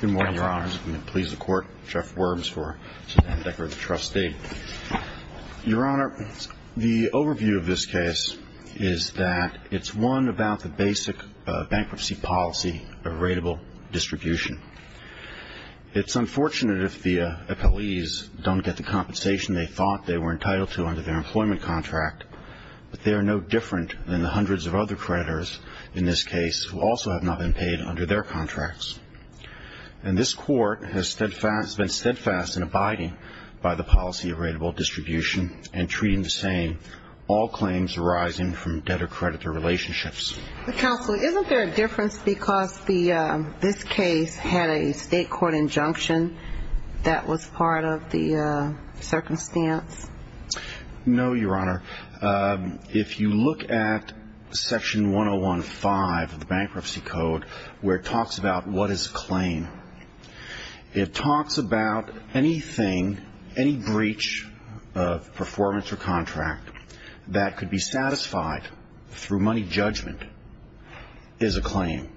Good morning, Your Honors. I'm going to please the Court, Jeff Worms, for Senator Decker, the trustee. Your Honor, the overview of this case is that it's one about the basic bankruptcy policy of rateable distribution. It's unfortunate if the appellees don't get the compensation they thought they were entitled to under their employment contract, but they are no different than the hundreds of other creditors in this case who also have not been paid under their contracts. And this Court has been steadfast in abiding by the policy of rateable distribution and treating the same all claims arising from debtor-creditor relationships. Counsel, isn't there a difference because this case had a state court injunction that was part of the circumstance? No, Your Honor. If you look at Section 101.5 of the Bankruptcy Code where it talks about what is a claim, it talks about anything, any breach of performance or contract that could be satisfied through money judgment is a claim.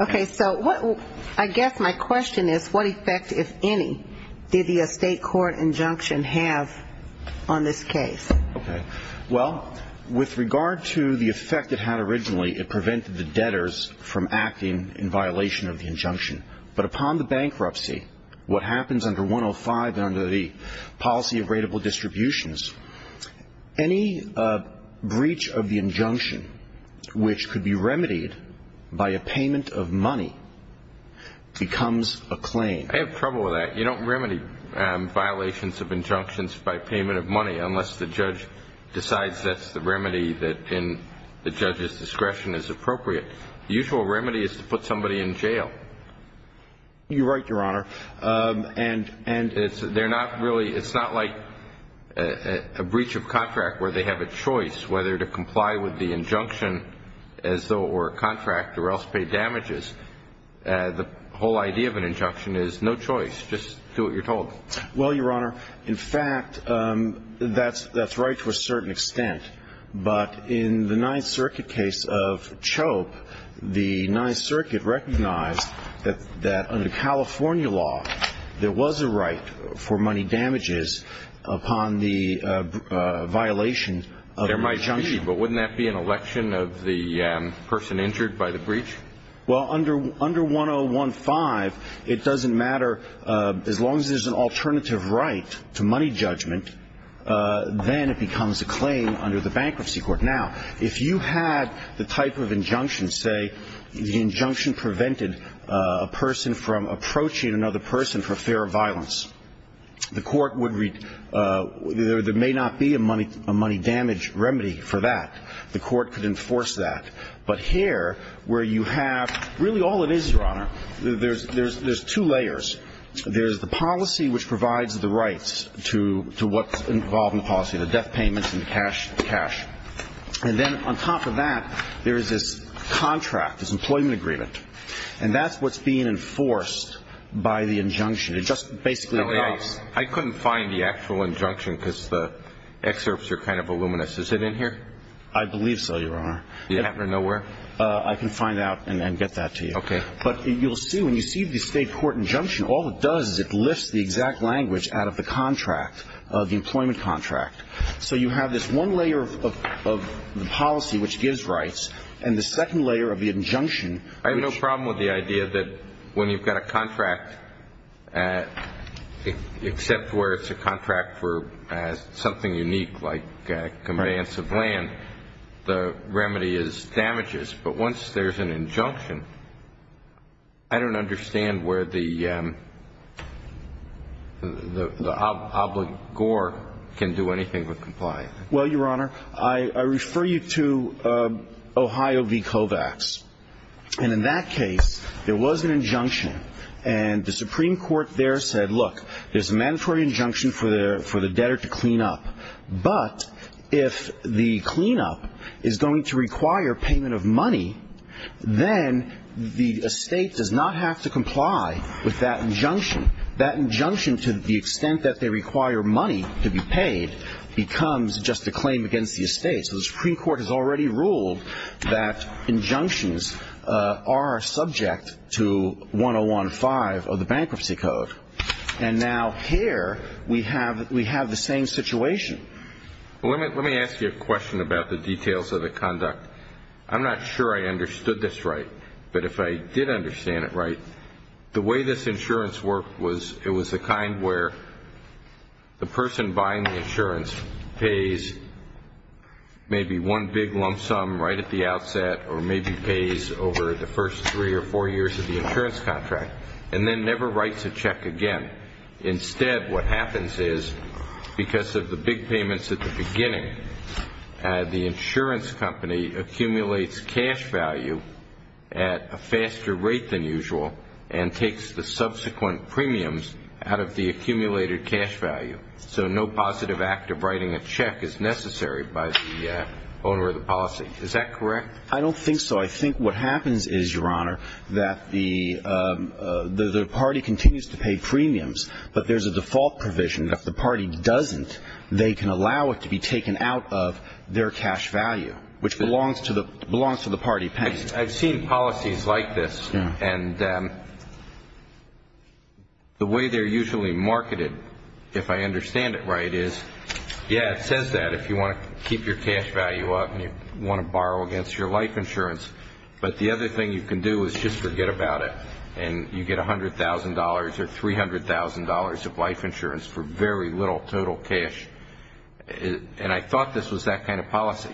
Okay. So I guess my question is what effect, if any, did the state court injunction have on this case? Okay. Well, with regard to the effect it had originally, it prevented the debtors from acting in violation of the injunction. But upon the bankruptcy, what happens under 105 and under the policy of rateable distributions, any breach of the injunction which could be remedied by a payment of money becomes a claim. I have trouble with that. You don't remedy violations of injunctions by payment of money unless the judge decides that's the remedy that in the judge's discretion is appropriate. The usual remedy is to put somebody in jail. You're right, Your Honor. It's not like a breach of contract where they have a choice whether to comply with the injunction as though it were a contract or else pay damages. The whole idea of an injunction is no choice, just do what you're told. Well, Your Honor, in fact, that's right to a certain extent. But in the Ninth Circuit case of Chope, the Ninth Circuit recognized that under California law, there was a right for money damages upon the violation of the injunction. There might be, but wouldn't that be an election of the person injured by the breach? Well, under 1015, it doesn't matter. As long as there's an alternative right to money judgment, then it becomes a claim under the Bankruptcy Court. Now, if you had the type of injunction, say, the injunction prevented a person from approaching another person for fear of violence, there may not be a money damage remedy for that. The court could enforce that. But here, where you have really all it is, Your Honor, there's two layers. There's the policy which provides the rights to what's involved in the policy, the death payments and the cash. And then on top of that, there is this contract, this employment agreement. And that's what's being enforced by the injunction. It just basically adopts. I couldn't find the actual injunction because the excerpts are kind of voluminous. Is it in here? I believe so, Your Honor. You happen to know where? I can find out and get that to you. Okay. But you'll see, when you see the State Court injunction, all it does is it lifts the exact language out of the contract, the employment contract. So you have this one layer of the policy which gives rights and the second layer of the injunction. I have no problem with the idea that when you've got a contract, except where it's a contract for something unique like conveyance of land, the remedy is damages. But once there's an injunction, I don't understand where the obligor can do anything with compliance. Well, Your Honor, I refer you to Ohio v. Kovacs. And in that case, there was an injunction. And the Supreme Court there said, look, there's a mandatory injunction for the debtor to clean up. But if the cleanup is going to require payment of money, then the estate does not have to comply with that injunction. That injunction, to the extent that they require money to be paid, becomes just a claim against the estate. So the Supreme Court has already ruled that injunctions are subject to 1015 of the Bankruptcy Code. And now here we have the same situation. Let me ask you a question about the details of the conduct. I'm not sure I understood this right, but if I did understand it right, the way this insurance worked was it was the kind where the person buying the insurance pays maybe one big lump sum right at the outset or maybe pays over the first three or four years of the insurance contract and then never writes a check again. Instead, what happens is because of the big payments at the beginning, the insurance company accumulates cash value at a faster rate than usual and takes the subsequent premiums out of the accumulated cash value. So no positive act of writing a check is necessary by the owner of the policy. Is that correct? I don't think so. No, I think what happens is, Your Honor, that the party continues to pay premiums, but there's a default provision that if the party doesn't, they can allow it to be taken out of their cash value, which belongs to the party paying. I've seen policies like this, and the way they're usually marketed, if I understand it right, is, Yeah, it says that if you want to keep your cash value up and you want to borrow against your life insurance. But the other thing you can do is just forget about it, and you get $100,000 or $300,000 of life insurance for very little total cash. And I thought this was that kind of policy.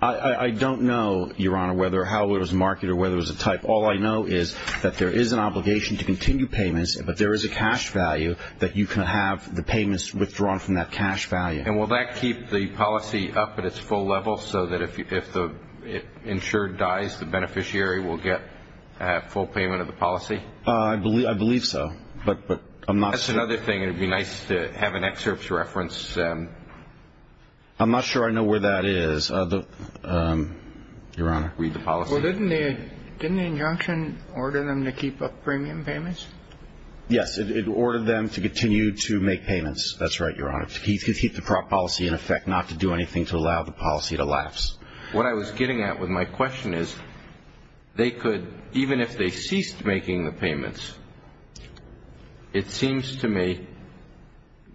I don't know, Your Honor, how it was marketed or whether it was a type. All I know is that there is an obligation to continue payments, but there is a cash value that you can have the payments withdrawn from that cash value. And will that keep the policy up at its full level so that if the insured dies, the beneficiary will get a full payment of the policy? I believe so, but I'm not sure. That's another thing. It would be nice to have an excerpt to reference. I'm not sure I know where that is, Your Honor. Read the policy. Well, didn't the injunction order them to keep up premium payments? Yes, it ordered them to continue to make payments. That's right, Your Honor. To keep the policy in effect, not to do anything to allow the policy to lapse. What I was getting at with my question is they could, even if they ceased making the payments, it seems to me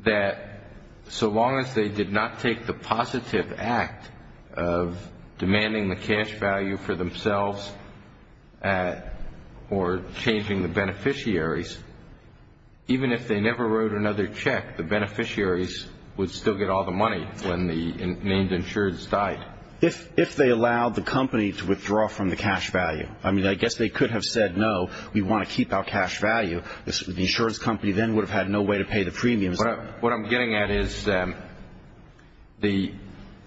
that so long as they did not take the positive act of demanding the cash value for themselves or changing the beneficiaries, even if they never wrote another check, the beneficiaries would still get all the money when the named insureds died. If they allowed the company to withdraw from the cash value, I mean, I guess they could have said, no, we want to keep our cash value. The insurance company then would have had no way to pay the premiums. What I'm getting at is the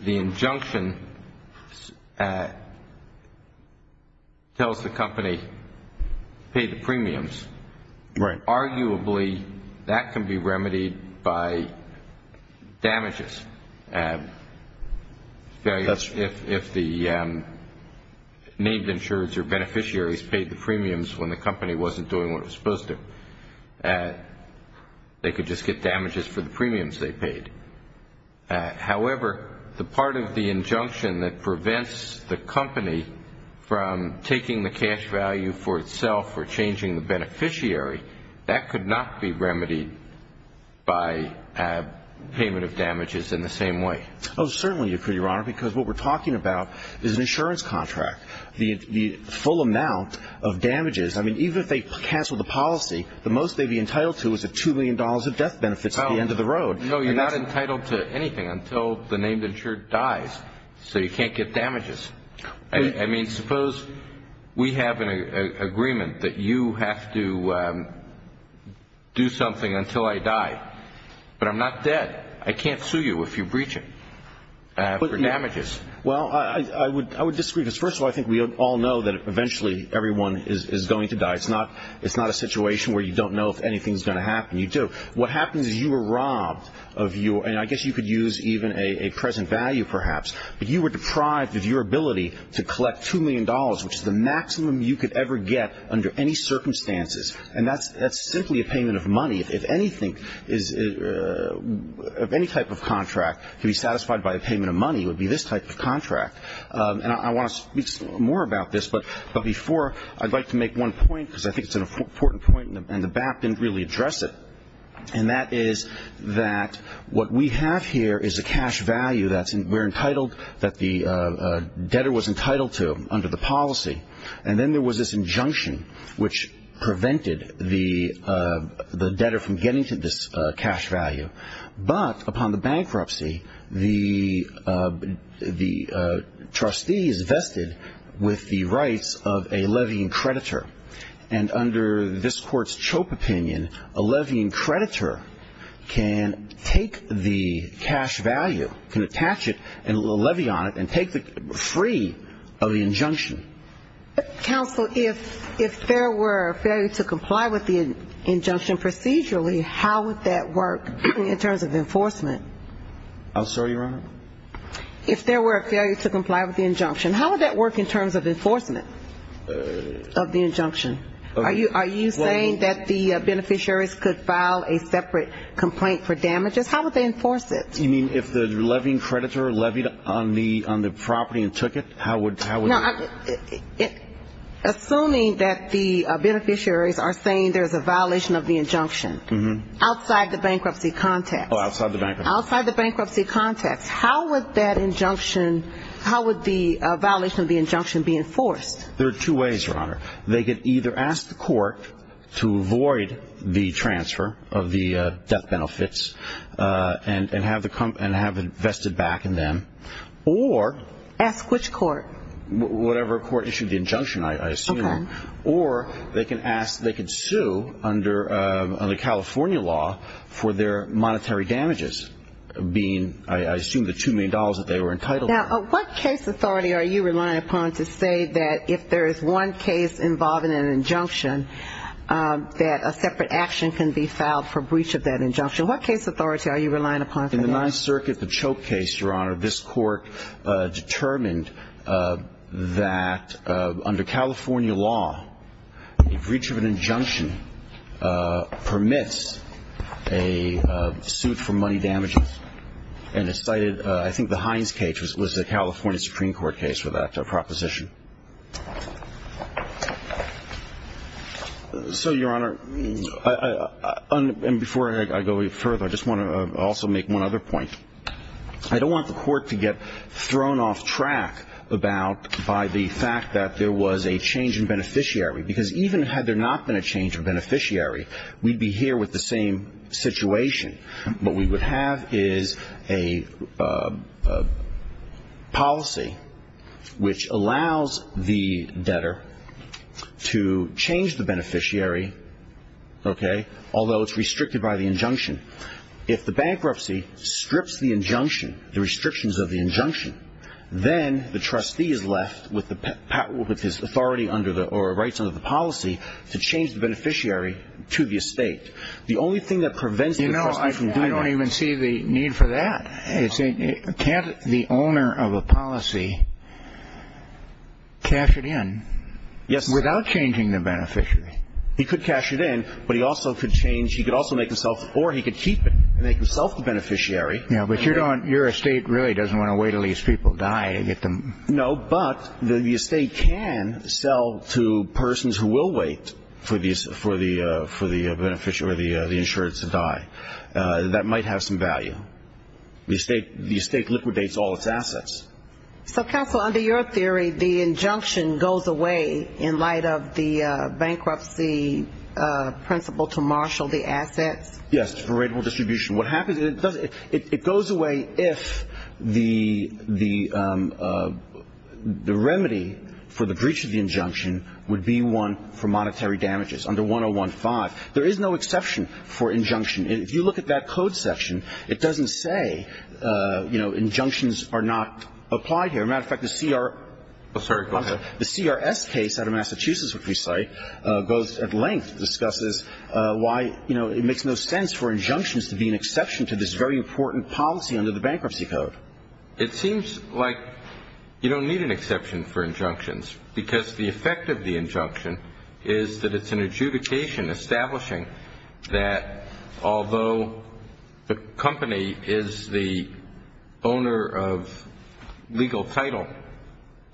injunction tells the company to pay the premiums. Right. Arguably, that can be remedied by damages. If the named insureds or beneficiaries paid the premiums when the company wasn't doing what it was supposed to, they could just get damages for the premiums they paid. However, the part of the injunction that prevents the company from taking the cash value for itself or changing the beneficiary, that could not be remedied by payment of damages in the same way. Oh, certainly it could, Your Honor, because what we're talking about is an insurance contract. The full amount of damages, I mean, even if they cancel the policy, the most they'd be entitled to is the $2 million of death benefits at the end of the road. No, you're not entitled to anything until the named insured dies. So you can't get damages. I mean, suppose we have an agreement that you have to do something until I die, but I'm not dead. I can't sue you if you breach it for damages. Well, I would disagree because, first of all, I think we all know that eventually everyone is going to die. It's not a situation where you don't know if anything's going to happen. You do. What happens is you were robbed of your, and I guess you could use even a present value perhaps, but you were deprived of your ability to collect $2 million, which is the maximum you could ever get under any circumstances. And that's simply a payment of money. If anything is, if any type of contract could be satisfied by a payment of money, it would be this type of contract. And I want to speak more about this, but before, I'd like to make one point, because I think it's an important point and the BAP didn't really address it, and that is that what we have here is a cash value that we're entitled, that the debtor was entitled to under the policy, and then there was this injunction which prevented the debtor from getting to this cash value. But upon the bankruptcy, the trustee is vested with the rights of a levying creditor, and under this Court's Chope opinion, a levying creditor can take the cash value, can attach it and levy on it, and take it free of the injunction. Counsel, if there were a failure to comply with the injunction procedurally, how would that work in terms of enforcement? I'm sorry, Your Honor? If there were a failure to comply with the injunction, how would that work in terms of enforcement of the injunction? Are you saying that the beneficiaries could file a separate complaint for damages? How would they enforce it? You mean if the levying creditor levied on the property and took it, how would that work? Assuming that the beneficiaries are saying there's a violation of the injunction, outside the bankruptcy context. Oh, outside the bankruptcy context. Outside the bankruptcy context. How would that injunction, how would the violation of the injunction be enforced? There are two ways, Your Honor. They could either ask the court to avoid the transfer of the debt benefits and have it vested back in them, or Ask which court? Whatever court issued the injunction, I assume. Okay. Or they could sue under California law for their monetary damages being, I assume, the $2 million that they were entitled to. Now, what case authority are you relying upon to say that if there is one case involving an injunction, that a separate action can be filed for breach of that injunction? What case authority are you relying upon for that? In the Ninth Circuit, the Choke case, Your Honor, this court determined that under California law, a breach of an injunction permits a suit for money damages. And it cited, I think the Hines case was the California Supreme Court case for that proposition. So, Your Honor, and before I go any further, I just want to also make one other point. I don't want the court to get thrown off track about, by the fact that there was a change in beneficiary. Because even had there not been a change in beneficiary, we'd be here with the same situation. What we would have is a policy which allows the debtor to change the beneficiary, okay, although it's restricted by the injunction. If the bankruptcy strips the injunction, the restrictions of the injunction, then the trustee is left with the authority or rights under the policy to change the beneficiary to the estate. The only thing that prevents the trustee from doing that. You know, I don't even see the need for that. Can't the owner of a policy cash it in without changing the beneficiary? He could cash it in, but he also could change, he could also make himself, or he could keep it and make himself the beneficiary. Yeah, but your estate really doesn't want to wait until these people die to get them. No, but the estate can sell to persons who will wait for the insurance to die. That might have some value. The estate liquidates all its assets. So, counsel, under your theory, the injunction goes away in light of the bankruptcy principle to marshal the assets? Yes, for rateable distribution. What happens, it goes away if the remedy for the breach of the injunction would be one for monetary damages under 101-5. There is no exception for injunction. If you look at that code section, it doesn't say, you know, injunctions are not applied here. As a matter of fact, the CRS case out of Massachusetts, which we cite, goes at length, discusses why, you know, it makes no sense for injunctions to be an exception to this very important policy under the bankruptcy code. It seems like you don't need an exception for injunctions because the effect of the injunction is that it's an adjudication establishing that although the company is the owner of legal title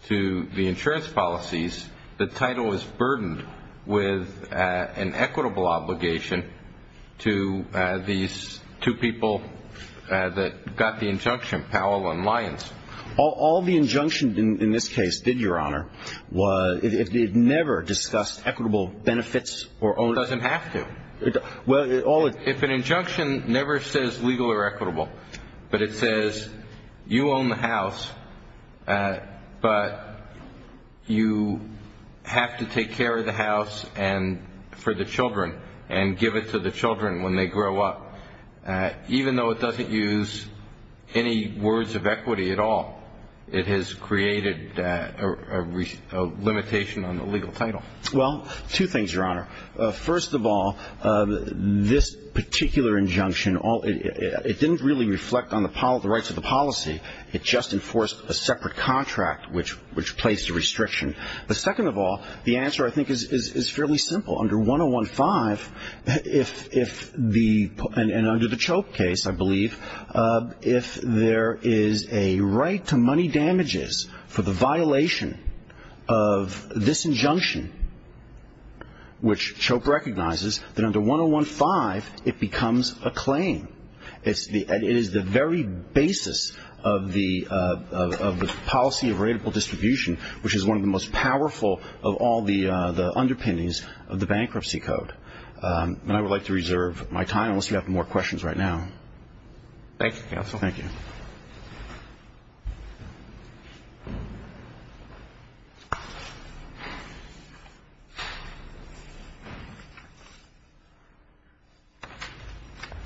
to the insurance policies, the title is burdened with an equitable obligation to these two people that got the injunction, Powell and Lyons. All the injunctions in this case did, Your Honor, if they had never discussed equitable benefits or ownership. It doesn't have to. If an injunction never says legal or equitable, but it says you own the house, but you have to take care of the house for the children and give it to the children when they grow up, even though it doesn't use any words of equity at all, it has created a limitation on the legal title. Well, two things, Your Honor. First of all, this particular injunction, it didn't really reflect on the rights of the policy. It just enforced a separate contract which placed a restriction. The second of all, the answer, I think, is fairly simple. Under 101.5, and under the Chope case, I believe, if there is a right to money damages for the violation of this injunction, which Chope recognizes, then under 101.5 it becomes a claim. It is the very basis of the policy of rateable distribution, which is one of the most powerful of all the underpinnings of the Bankruptcy Code. And I would like to reserve my time unless you have more questions right now. Thank you, counsel. Thank you.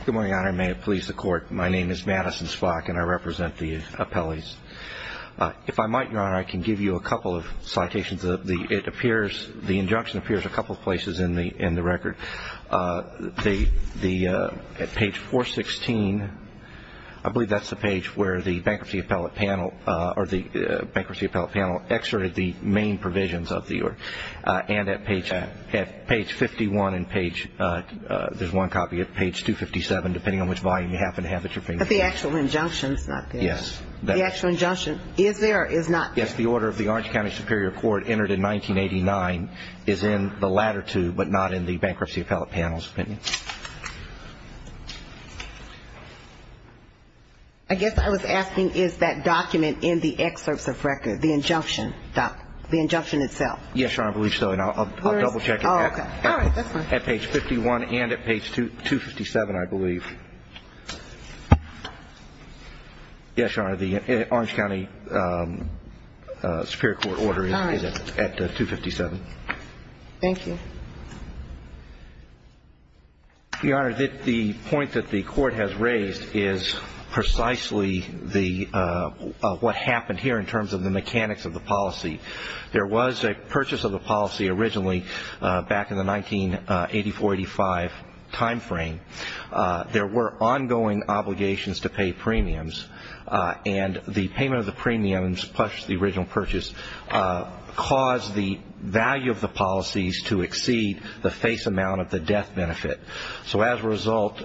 Good morning, Your Honor. May it please the Court. My name is Madison Spock, and I represent the appellees. If I might, Your Honor, I can give you a couple of citations. The injunction appears a couple of places in the record. At page 416, I believe that's the page where the Bankruptcy Appellate Panel or the Bankruptcy Appellate Panel exerted the main provisions of the order. And at page 51 and page, there's one copy at page 257, depending on which volume you happen to have at your fingertips. But the actual injunction is not there. Yes. The actual injunction is there or is not there? Yes, the order of the Orange County Superior Court entered in 1989 is in the latter two, but not in the Bankruptcy Appellate Panel's opinion. I guess I was asking, is that document in the excerpts of record, the injunction itself? Yes, Your Honor, I believe so. And I'll double-check it. Oh, okay. All right. At page 51 and at page 257, I believe. Yes, Your Honor, the Orange County Superior Court order is at 257. All right. Thank you. Your Honor, the point that the Court has raised is precisely what happened here in terms of the mechanics of the policy. There was a purchase of the policy originally back in the 1984-85 timeframe. There were ongoing obligations to pay premiums, and the payment of the premiums plus the original purchase caused the value of the policies to exceed the face amount of the death benefit. So as a result,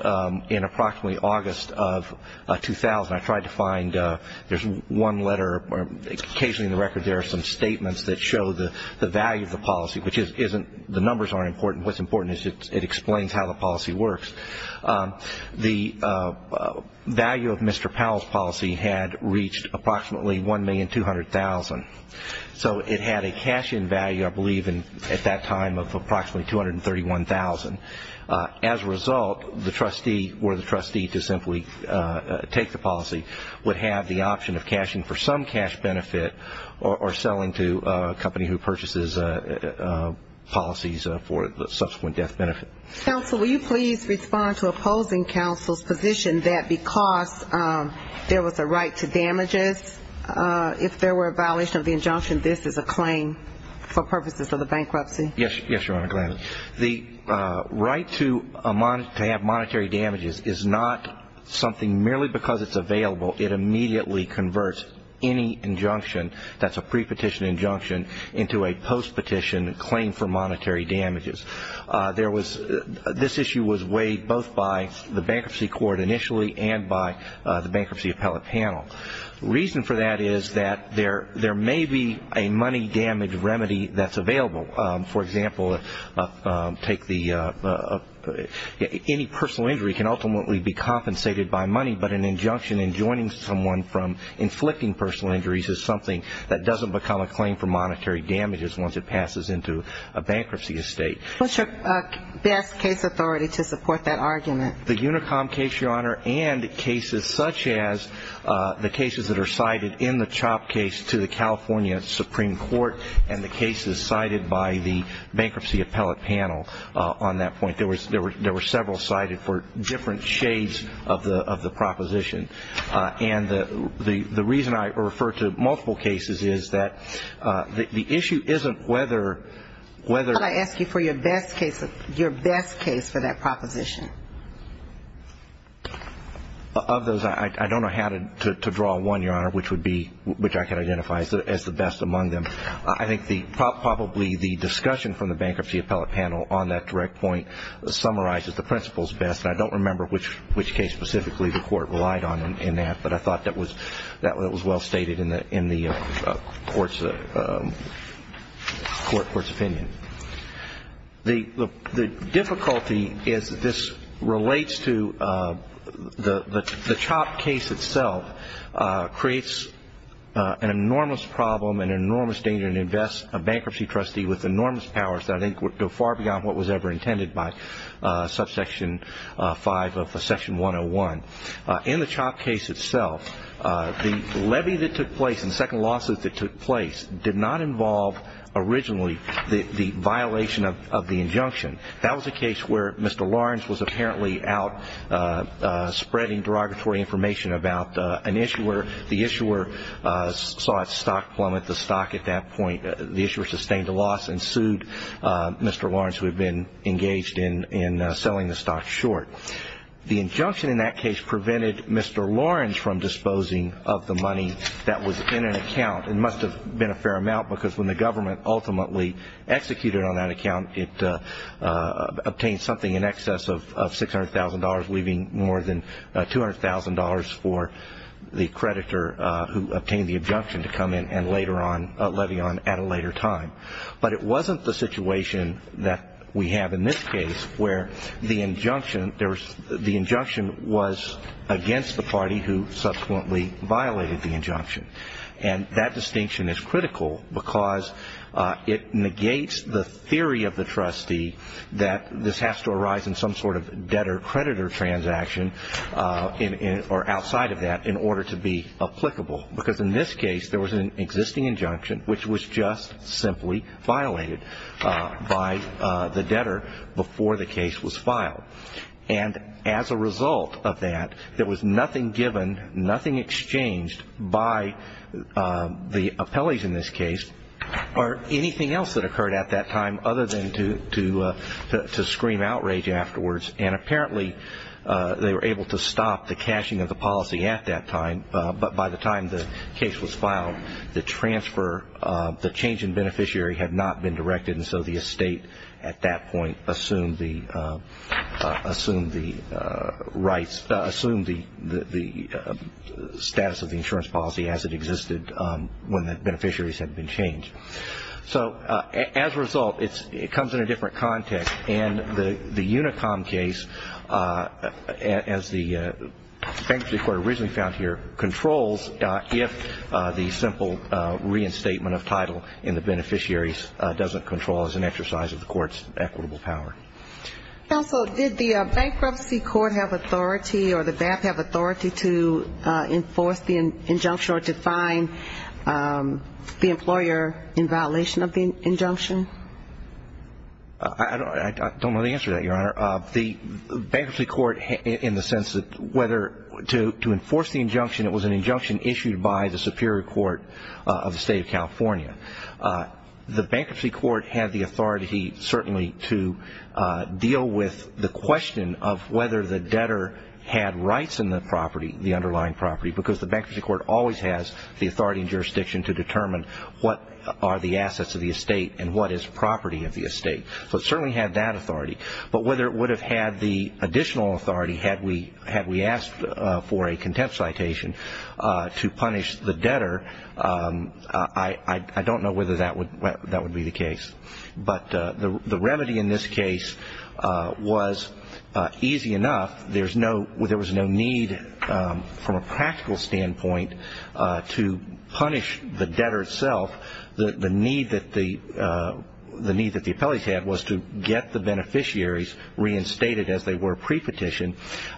in approximately August of 2000, I tried to find one letter. Occasionally in the record there are some statements that show the value of the policy, which isn't the numbers aren't important. What's important is it explains how the policy works. The value of Mr. Powell's policy had reached approximately $1,200,000. So it had a cash-in value, I believe, at that time of approximately $231,000. As a result, the trustee or the trustee to simply take the policy would have the option of cashing for some cash benefit or selling to a company who purchases policies for the subsequent death benefit. Counsel, will you please respond to opposing counsel's position that because there was a right to damages, if there were a violation of the injunction, this is a claim for purposes of the bankruptcy? Yes, Your Honor. The right to have monetary damages is not something merely because it's available. It immediately converts any injunction that's a pre-petition injunction into a post-petition claim for monetary damages. This issue was weighed both by the bankruptcy court initially and by the bankruptcy appellate panel. The reason for that is that there may be a money damage remedy that's available. For example, any personal injury can ultimately be compensated by money, but an injunction enjoining someone from inflicting personal injuries is something that doesn't become a claim for monetary damages once it passes into a bankruptcy estate. What's your best case authority to support that argument? The UNICOM case, Your Honor, and cases such as the cases that are cited in the CHOP case to the California Supreme Court and the cases cited by the bankruptcy appellate panel on that point. There were several cited for different shades of the proposition, and the reason I refer to multiple cases is that the issue isn't whether or not. Could I ask you for your best case for that proposition? Of those, I don't know how to draw one, Your Honor, which I can identify as the best among them. I think probably the discussion from the bankruptcy appellate panel on that direct point summarizes the principles best, and I don't remember which case specifically the court relied on in that, but I thought that was well stated in the court's opinion. The difficulty is that this relates to the CHOP case itself creates an enormous problem and an enormous danger to invest a bankruptcy trustee with enormous powers that I think go far beyond what was ever intended by subsection 5 of section 101. In the CHOP case itself, the levy that took place and the second lawsuit that took place did not involve originally the violation of the injunction. That was a case where Mr. Lawrence was apparently out spreading derogatory information about an issuer. The issuer saw a stock plummet, the stock at that point. The issuer sustained a loss and sued Mr. Lawrence, who had been engaged in selling the stock short. The injunction in that case prevented Mr. Lawrence from disposing of the money that was in an account. It must have been a fair amount because when the government ultimately executed on that account, it obtained something in excess of $600,000, leaving more than $200,000 for the creditor who obtained the injunction to come in and later on levy on at a later time. But it wasn't the situation that we have in this case where the injunction was against the party who subsequently violated the injunction. And that distinction is critical because it negates the theory of the trustee that this has to arise in some sort of debtor-creditor transaction or outside of that in order to be applicable. Because in this case, there was an existing injunction which was just simply violated by the debtor before the case was filed. And as a result of that, there was nothing given, nothing exchanged by the appellees in this case or anything else that occurred at that time other than to scream outrage afterwards. And apparently, they were able to stop the cashing of the policy at that time. But by the time the case was filed, the transfer, the change in beneficiary had not been directed, and so the estate at that point assumed the status of the insurance policy as it existed when the beneficiaries had been changed. So as a result, it comes in a different context. And the UNICOM case, as the Bankruptcy Court originally found here, controls if the simple reinstatement of title in the beneficiaries doesn't control as an exercise of the court's equitable power. Counsel, did the Bankruptcy Court have authority or the BAP have authority to enforce the injunction or to fine the employer in violation of the injunction? I don't know the answer to that, Your Honor. The Bankruptcy Court, in the sense that whether to enforce the injunction, it was an injunction issued by the Superior Court of the State of California. The Bankruptcy Court had the authority certainly to deal with the question of whether the debtor had rights in the property, the underlying property, because the Bankruptcy Court always has the authority and jurisdiction to determine what are the assets of the estate and what is property of the estate. So it certainly had that authority. But whether it would have had the additional authority had we asked for a contempt citation to punish the debtor, I don't know whether that would be the case. But the remedy in this case was easy enough. There was no need from a practical standpoint to punish the debtor itself. The need that the appellees had was to get the beneficiaries reinstated as they were pre-petitioned,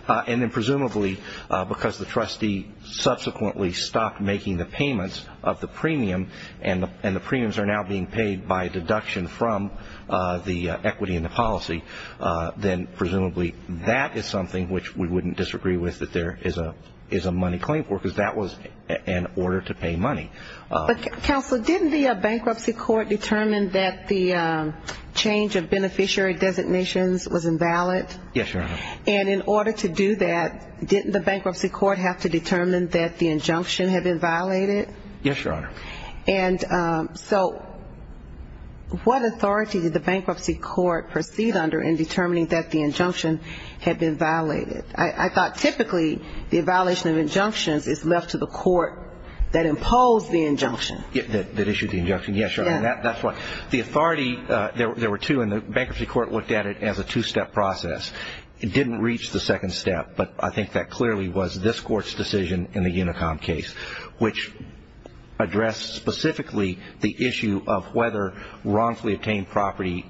and then presumably because the trustee subsequently stopped making the payments of the premium and the premiums are now being paid by a deduction from the equity in the policy, then presumably that is something which we wouldn't disagree with that there is a money claim for, because that was an order to pay money. But, Counselor, didn't the Bankruptcy Court determine that the change of beneficiary designations was invalid? Yes, Your Honor. And in order to do that, didn't the Bankruptcy Court have to determine that the injunction had been violated? Yes, Your Honor. And so what authority did the Bankruptcy Court proceed under in determining that the injunction had been violated? I thought typically the violation of injunctions is left to the court that imposed the injunction. That issued the injunction, yes, Your Honor. That's right. The authority, there were two, and the Bankruptcy Court looked at it as a two-step process. It didn't reach the second step, but I think that clearly was this Court's decision in the Unicom case, which addressed specifically the issue of whether wrongfully obtained property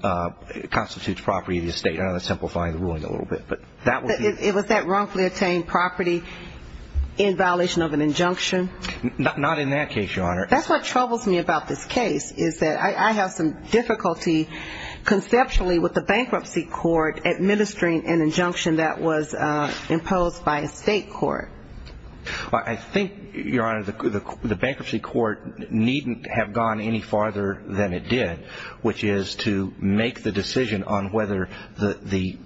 constitutes property of the estate. I don't know if that's simplifying the ruling a little bit. It was that wrongfully obtained property in violation of an injunction? Not in that case, Your Honor. That's what troubles me about this case is that I have some difficulty conceptually with the Bankruptcy Court administering an injunction that was imposed by a state court. I think, Your Honor, the Bankruptcy Court needn't have gone any farther than it did, which is to make the decision on whether the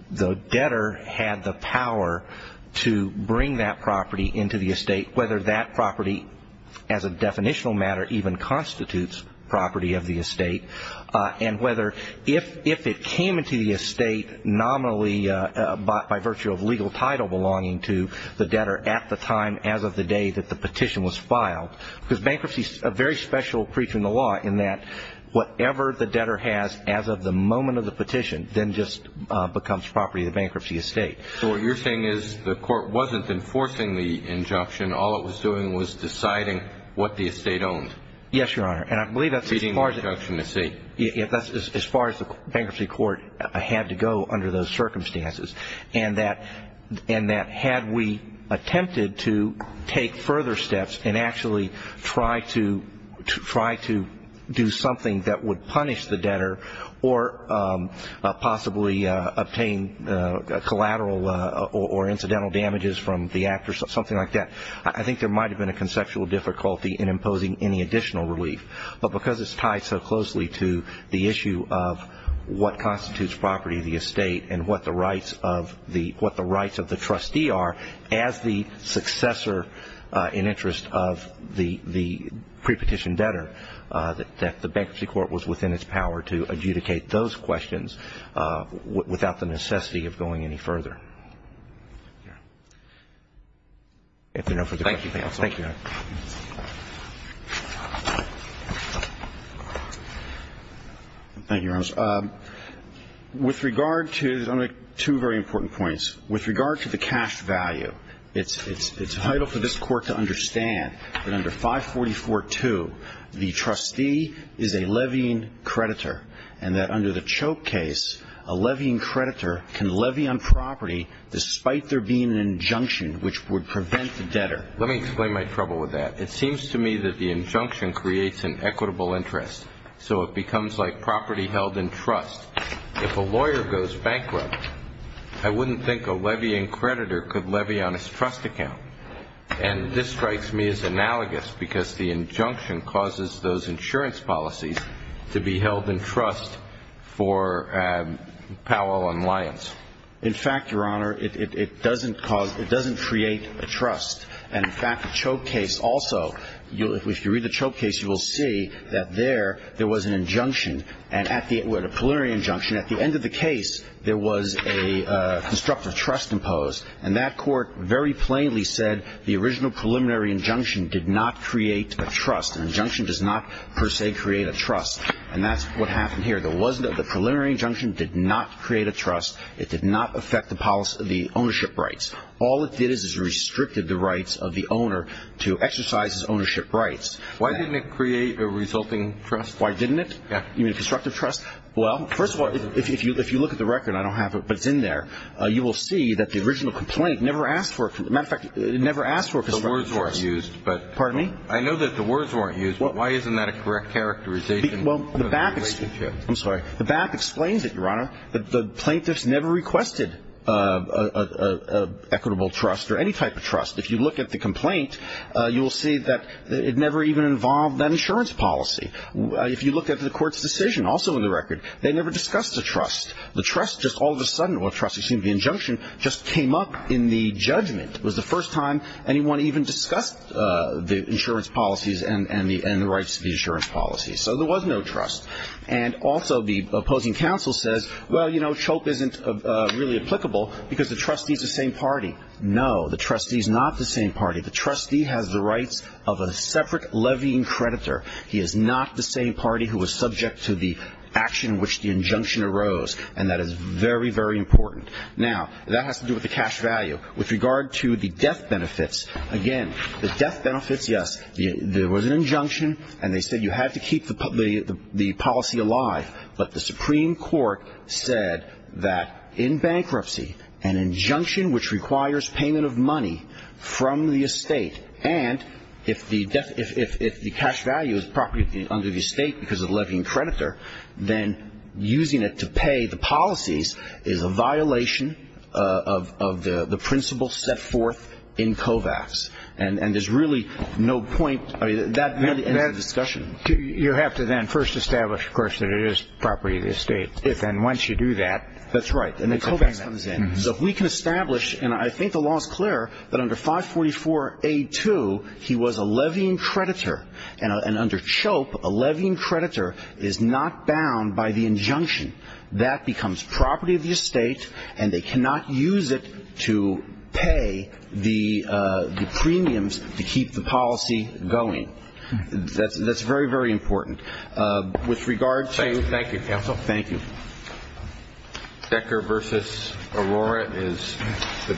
debtor had the power to bring that property into the estate, whether that property as a definitional matter even constitutes property of the estate, and whether if it came into the estate nominally by virtue of legal title belonging to the debtor at the time, as of the day that the petition was filed, because bankruptcy is a very special creature in the law, in that whatever the debtor has as of the moment of the petition then just becomes property of the bankruptcy estate. So what you're saying is the Court wasn't enforcing the injunction. All it was doing was deciding what the estate owned? Yes, Your Honor. And I believe that's as far as the Bankruptcy Court had to go under those circumstances, and that had we attempted to take further steps and actually try to do something that would punish the debtor or possibly obtain collateral or incidental damages from the act or something like that, I think there might have been a conceptual difficulty in imposing any additional relief. But because it's tied so closely to the issue of what constitutes property of the estate and what the rights of the trustee are as the successor in interest of the pre-petition debtor, that the Bankruptcy Court was within its power to adjudicate those questions without the necessity of going any further. If there are no further questions, thank you. Thank you, Your Honor. Thank you, Your Honor. With regard to the two very important points, with regard to the cash value, it's vital for this Court to understand that under 544-2 the trustee is a levying creditor, and that under the Choke case a levying creditor can levy on property despite there being an injunction which would prevent the debtor. Let me explain my trouble with that. It seems to me that the injunction creates an equitable interest, so it becomes like property held in trust. If a lawyer goes bankrupt, I wouldn't think a levying creditor could levy on his trust account. And this strikes me as analogous because the injunction causes those insurance policies to be held in trust for Powell and Lyons. In fact, Your Honor, it doesn't create a trust. And, in fact, the Choke case also, if you read the Choke case, you will see that there there was an injunction, a preliminary injunction, at the end of the case there was a constructive trust imposed, and that court very plainly said the original preliminary injunction did not create a trust. An injunction does not per se create a trust, and that's what happened here. The preliminary injunction did not create a trust. It did not affect the ownership rights. All it did is it restricted the rights of the owner to exercise his ownership rights. Why didn't it create a resulting trust? Why didn't it? Yeah. You mean a constructive trust? Well, first of all, if you look at the record, I don't have it, but it's in there, you will see that the original complaint never asked for a constructive trust. The words weren't used. Pardon me? I know that the words weren't used, but why isn't that a correct characterization of the relationship? I'm sorry. The back explains it, Your Honor, that the plaintiffs never requested an equitable trust or any type of trust. If you look at the complaint, you will see that it never even involved that insurance policy. If you look at the court's decision, also in the record, they never discussed a trust. The trust just all of a sudden, or trust, excuse me, the injunction, just came up in the judgment. It was the first time anyone even discussed the insurance policies and the rights to the insurance policies. So there was no trust. And also the opposing counsel says, well, you know, CHOPE isn't really applicable because the trustee is the same party. No, the trustee is not the same party. The trustee has the rights of a separate levying creditor. He is not the same party who is subject to the action in which the injunction arose, and that is very, very important. Now, that has to do with the cash value. With regard to the death benefits, again, the death benefits, yes, there was an injunction, and they said you have to keep the policy alive, but the Supreme Court said that in bankruptcy, an injunction which requires payment of money from the estate, and if the cash value is property under the estate because of the levying creditor, then using it to pay the policies is a violation of the principles set forth in COVAX. And there's really no point. That ends the discussion. You have to then first establish, of course, that it is property of the estate. And once you do that, the COVAX comes in. So if we can establish, and I think the law is clear, that under 544A2, he was a levying creditor, and under CHOPE, a levying creditor is not bound by the injunction. That becomes property of the estate, and they cannot use it to pay the premiums to keep the policy going. That's very, very important. With regard to the- Thank you, counsel. Thank you. Decker v. Aurora is the-